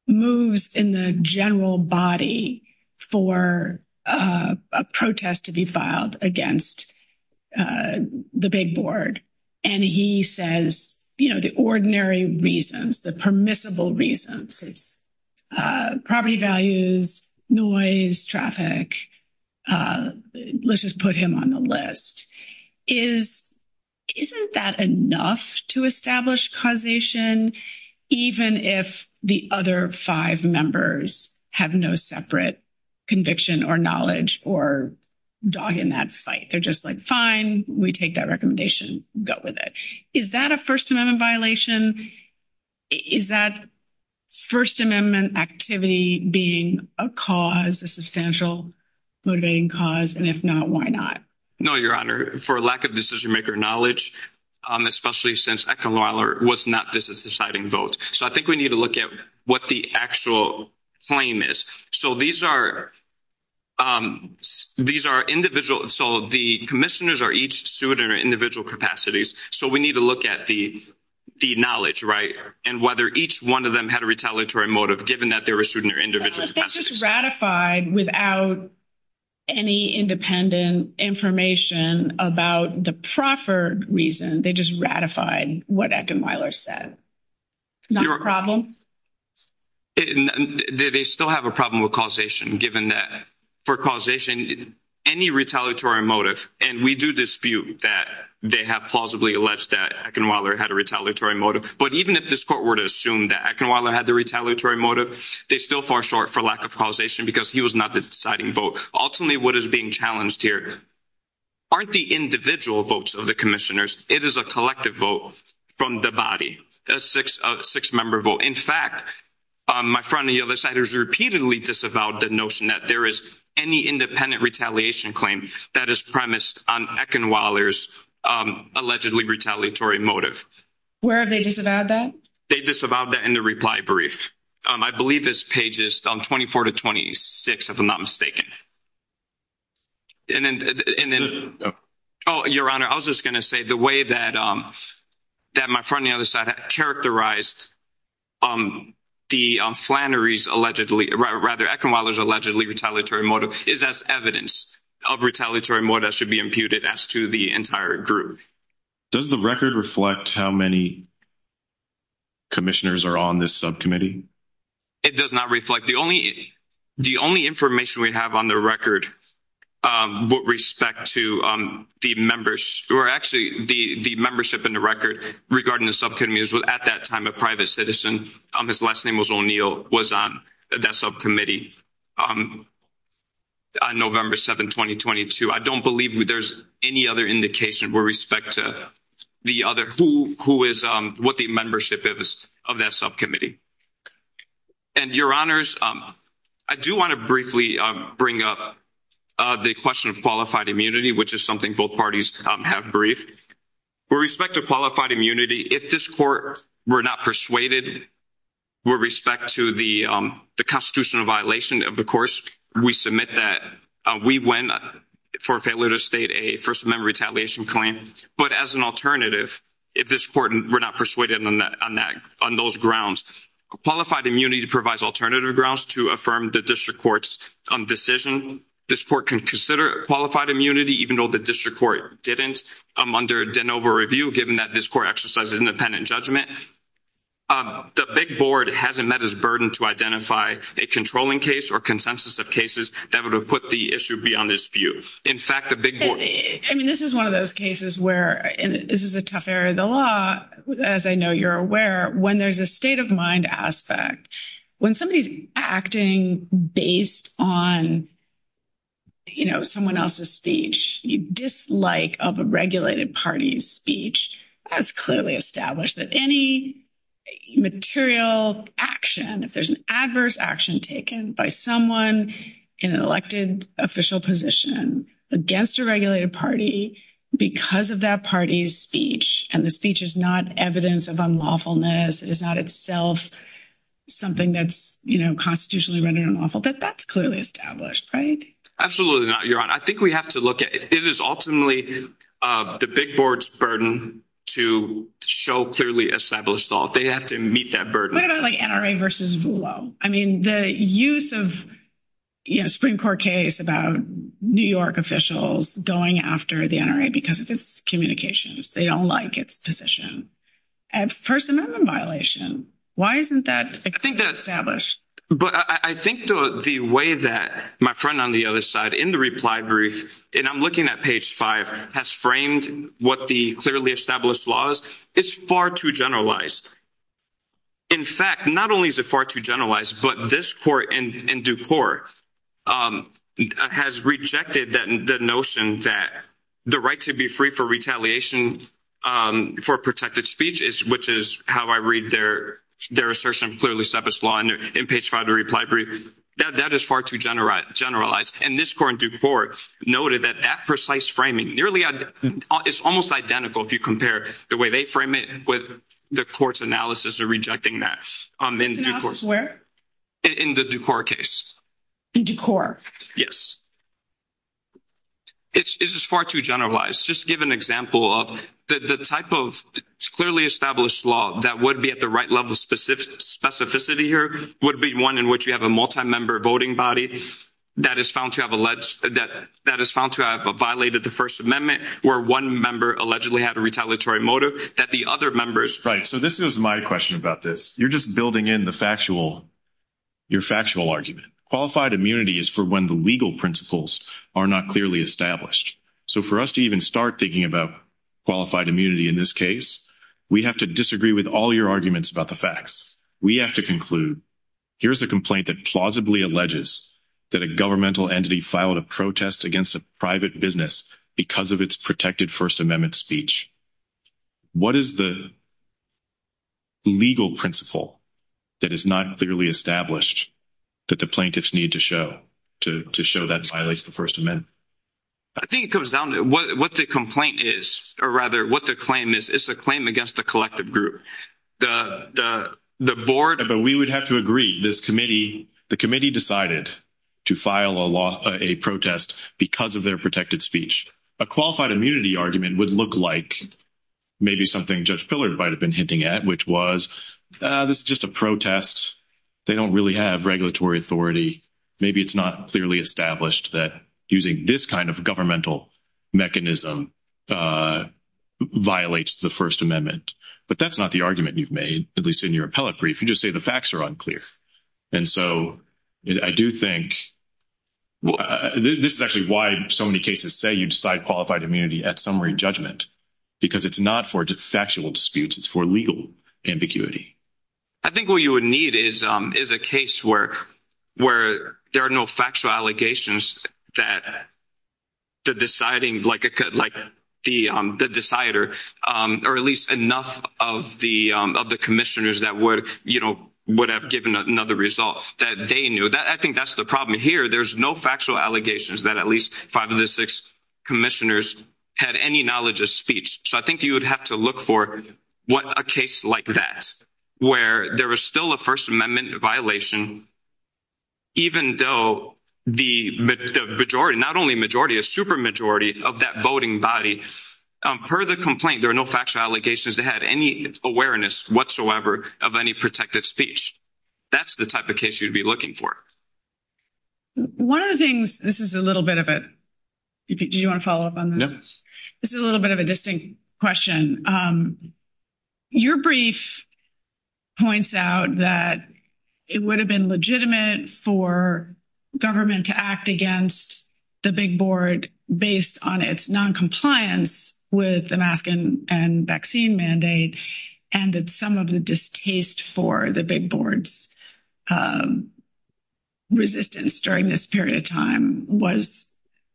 moves in the general body for a protest to be filed against the big board, and he says, you know, the ordinary reasons, the permissible reasons, it's property values, noise, traffic, let's just put him on the list, isn't that enough to establish causation, even if the other five members have no separate conviction or knowledge or dog in that fight. They're just like, fine, we take that recommendation, go with it. Is that a First Amendment violation? Is that First Amendment activity being a cause, a substantial motivating cause? And if not, why not? No, Your Honor, for lack of decision-maker knowledge, especially since Eckenweiler was not deciding votes. So I think we need to look at what the actual claim is. So these are individual, so the commissioners are each suited in individual capacities, so we need to look at the knowledge, right? And whether each one of them had a retaliatory motive, given that they were suited in their individual capacities. But they just ratified without any independent information about the proffered reason. They just ratified what Eckenweiler said. Not a problem? They still have a problem with causation, given that for causation, any retaliatory motive, and we do dispute that they have plausibly alleged that Eckenweiler had a retaliatory motive. But even if this court were to assume that Eckenweiler had the retaliatory motive, they're still far short for lack of causation because he was not the deciding vote. Ultimately, what is being challenged here aren't the individual votes of the commissioners. It is a collective vote from the body, a six-member vote. In fact, my friend on the other side has repeatedly disavowed the notion that there is any independent retaliation claim that is premised on Eckenweiler's allegedly retaliatory motive. Where have they disavowed that? They disavowed that in the reply brief. I believe it's pages 24 to 26, if I'm not mistaken. Oh, Your Honor, I was just going to say the way that my friend on the other side characterized the Flannery's allegedly, rather, Eckenweiler's allegedly retaliatory motive is as evidence of retaliatory motive that should be imputed as to the entire group. Does the record reflect how many commissioners are on this subcommittee? It does not reflect. The only information we have on the record with respect to the members, or actually the membership in the record regarding the subcommittee is at that time a private citizen. His last name was O'Neill, was on that subcommittee on November 7, 2022. I don't believe there's any other indication with respect to the other, who is, what the membership is of that subcommittee. And, Your Honors, I do want to briefly bring up the question of qualified immunity, which is something both parties have briefed. With respect to qualified immunity, if this court were not persuaded, with respect to the constitutional violation of the course, we submit that we went for failure to state a First Amendment retaliation claim. But as an alternative, if this court were not persuaded on those grounds, qualified immunity provides alternative grounds to affirm the district court's decision. This court can consider qualified immunity, even though the district court didn't, under Denova review, given that this court exercises independent judgment, the big board hasn't met its burden to identify a controlling case or consensus of cases that would have put the issue beyond its view. In fact, the big board. I mean, this is one of those cases where, and this is a tough area of the law, as I know you're aware, when there's a state of mind aspect, when somebody's acting based on someone else's speech, the dislike of a regulated party's speech has clearly established that any material action, if there's an adverse action taken by someone in an elected official position against a regulated party because of that party's speech, and the speech is not evidence of unlawfulness, it is not itself something that's constitutionally rendered unlawful, that that's clearly established, right? Absolutely not, Your Honor. I think we have to look at it. It is ultimately the big board's burden to show clearly established law. They have to meet that burden. What about like NRA versus Voolo? I mean, the use of, you know, Supreme Court case about New York officials going after the NRA because of its communications, they don't like its position. And First Amendment violation, why isn't that established? But I think the way that my friend on the other side in the reply brief, and I'm looking at page five, has framed what the clearly established law is, it's far too generalized. In fact, not only is it far too generalized, but this court in Duport has rejected the notion that the right to be free for retaliation for protected speech, which is how I read their assertion of clearly established law in page five of the reply brief, that is far too generalized. And this court in Duport noted that that precise framing nearly, it's almost identical if you compare the way they frame it with the court's analysis of rejecting that. Its analysis where? In the Duport case. In Duport? Yes. It is far too generalized. Just to give an example of the type of clearly established law that would be at the right level of specificity here would be one in which you have a multi-member voting body that is found to have alleged, that is found to have violated the First Amendment where one member allegedly had a retaliatory motive that the other members. Right. So this is my question about this. You're just building in the factual, your factual argument. Qualified immunity is for when the legal principles are not clearly established. So for us to even start thinking about qualified immunity in this case, we have to disagree with all your arguments about the facts. We have to conclude here's a complaint that plausibly alleges that a governmental entity filed a protest against a private business because of its protected First Amendment speech. What is the legal principle that is not clearly established that the plaintiffs need to show to show that violates the First Amendment? I think it comes down to what the complaint is or rather what the claim is. It's a claim against the collective group, the board. But we would have to agree this committee, the committee decided to file a law, a protest because of their protected speech. A qualified immunity argument would look like maybe something Judge Pillard might have been hinting at, which was this is just a protest. They don't really have regulatory authority. Maybe it's not clearly established that using this kind of governmental mechanism violates the First Amendment. But that's not the argument you've made, at least in your appellate brief. You just say the facts are unclear. And so I do think this is actually why so many cases say you decide qualified immunity at summary judgment, because it's not for factual disputes. It's for legal ambiguity. I think what you would need is is a case where where there are no factual allegations that the deciding like like the decider or at least enough of the of the commissioners that would, you know, would have given another result that they knew that. I think that's the problem here. There's no factual allegations that at least five of the six commissioners had any knowledge of speech. So I think you would have to look for what a case like that where there was still a First Amendment violation, even though the majority, not only majority, a super majority of that voting body per the complaint, there are no factual allegations that had any awareness whatsoever of any protected speech. That's the type of case you'd be looking for. One of the things this is a little bit of it. Do you want to follow up on this? It's a little bit of a distinct question. Your brief points out that it would have been legitimate for government to act against the big board based on its noncompliance with the mask and vaccine mandate. And that some of the distaste for the big boards resistance during this period of time was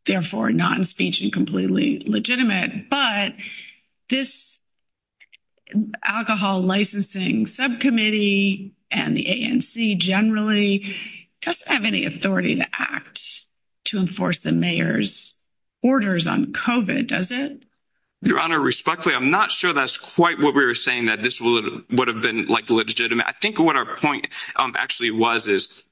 therefore non-speech and completely legitimate. But this alcohol licensing subcommittee and the ANC generally doesn't have any authority to act to enforce the mayor's orders on COVID, does it? Your Honor, respectfully, I'm not sure that's quite what we were saying that this would have been like legitimate. I think what our point actually was is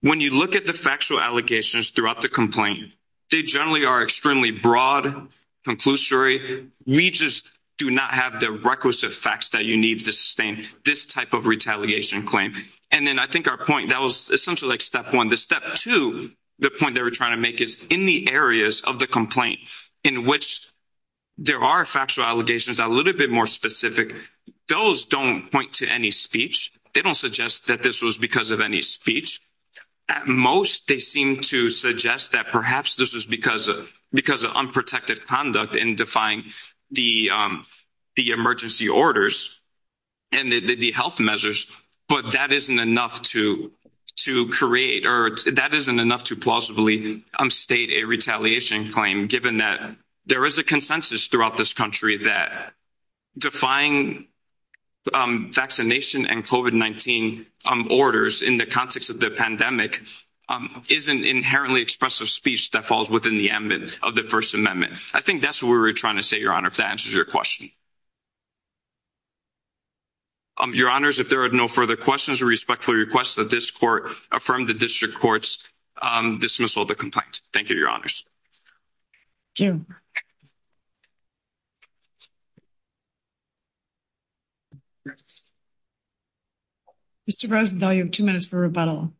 when you look at the factual allegations throughout the complaint, they generally are extremely broad, conclusory. We just do not have the requisite facts that you need to sustain this type of retaliation claim. And then I think our point that was essentially like step one. The step two, the point that we're trying to make is in the areas of the complaint in which there are factual allegations a little bit more specific, those don't point to any speech. They don't suggest that this was because of any speech. At most, they seem to suggest that perhaps this is because of unprotected conduct in defying the emergency orders and the health measures. But that isn't enough to create or that isn't enough to plausibly state a retaliation claim given that there is a consensus throughout this country that defying vaccination and COVID-19 orders in the context of the pandemic is an inherently expressive speech that falls within the ambit of the First Amendment. I think that's what we were trying to say, Your Honor, if that answers your question. Your Honors, if there are no further questions, I respectfully request that this Court affirm the District Court's dismissal of the complaint. Thank you, Your Honors. Thank you. Mr. Rosenthal, you have two minutes for rebuttal.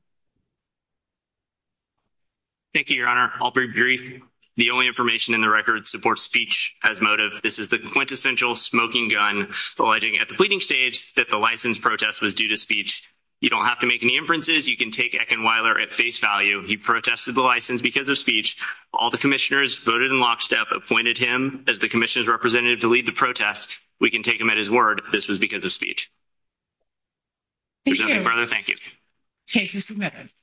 Thank you, Your Honor. I'll be brief. The only information in the record supports speech as motive. This is the quintessential smoking gun alleging at the pleading stage that the license protest was due to speech. You don't have to make any inferences. You can take Eckenweiler at face value. He protested the license because of speech. All the commissioners voted in lockstep, appointed him as the commission's representative to lead the protest. We can take him at his word. This was because of speech. There's nothing further. Thank you. Case is submitted.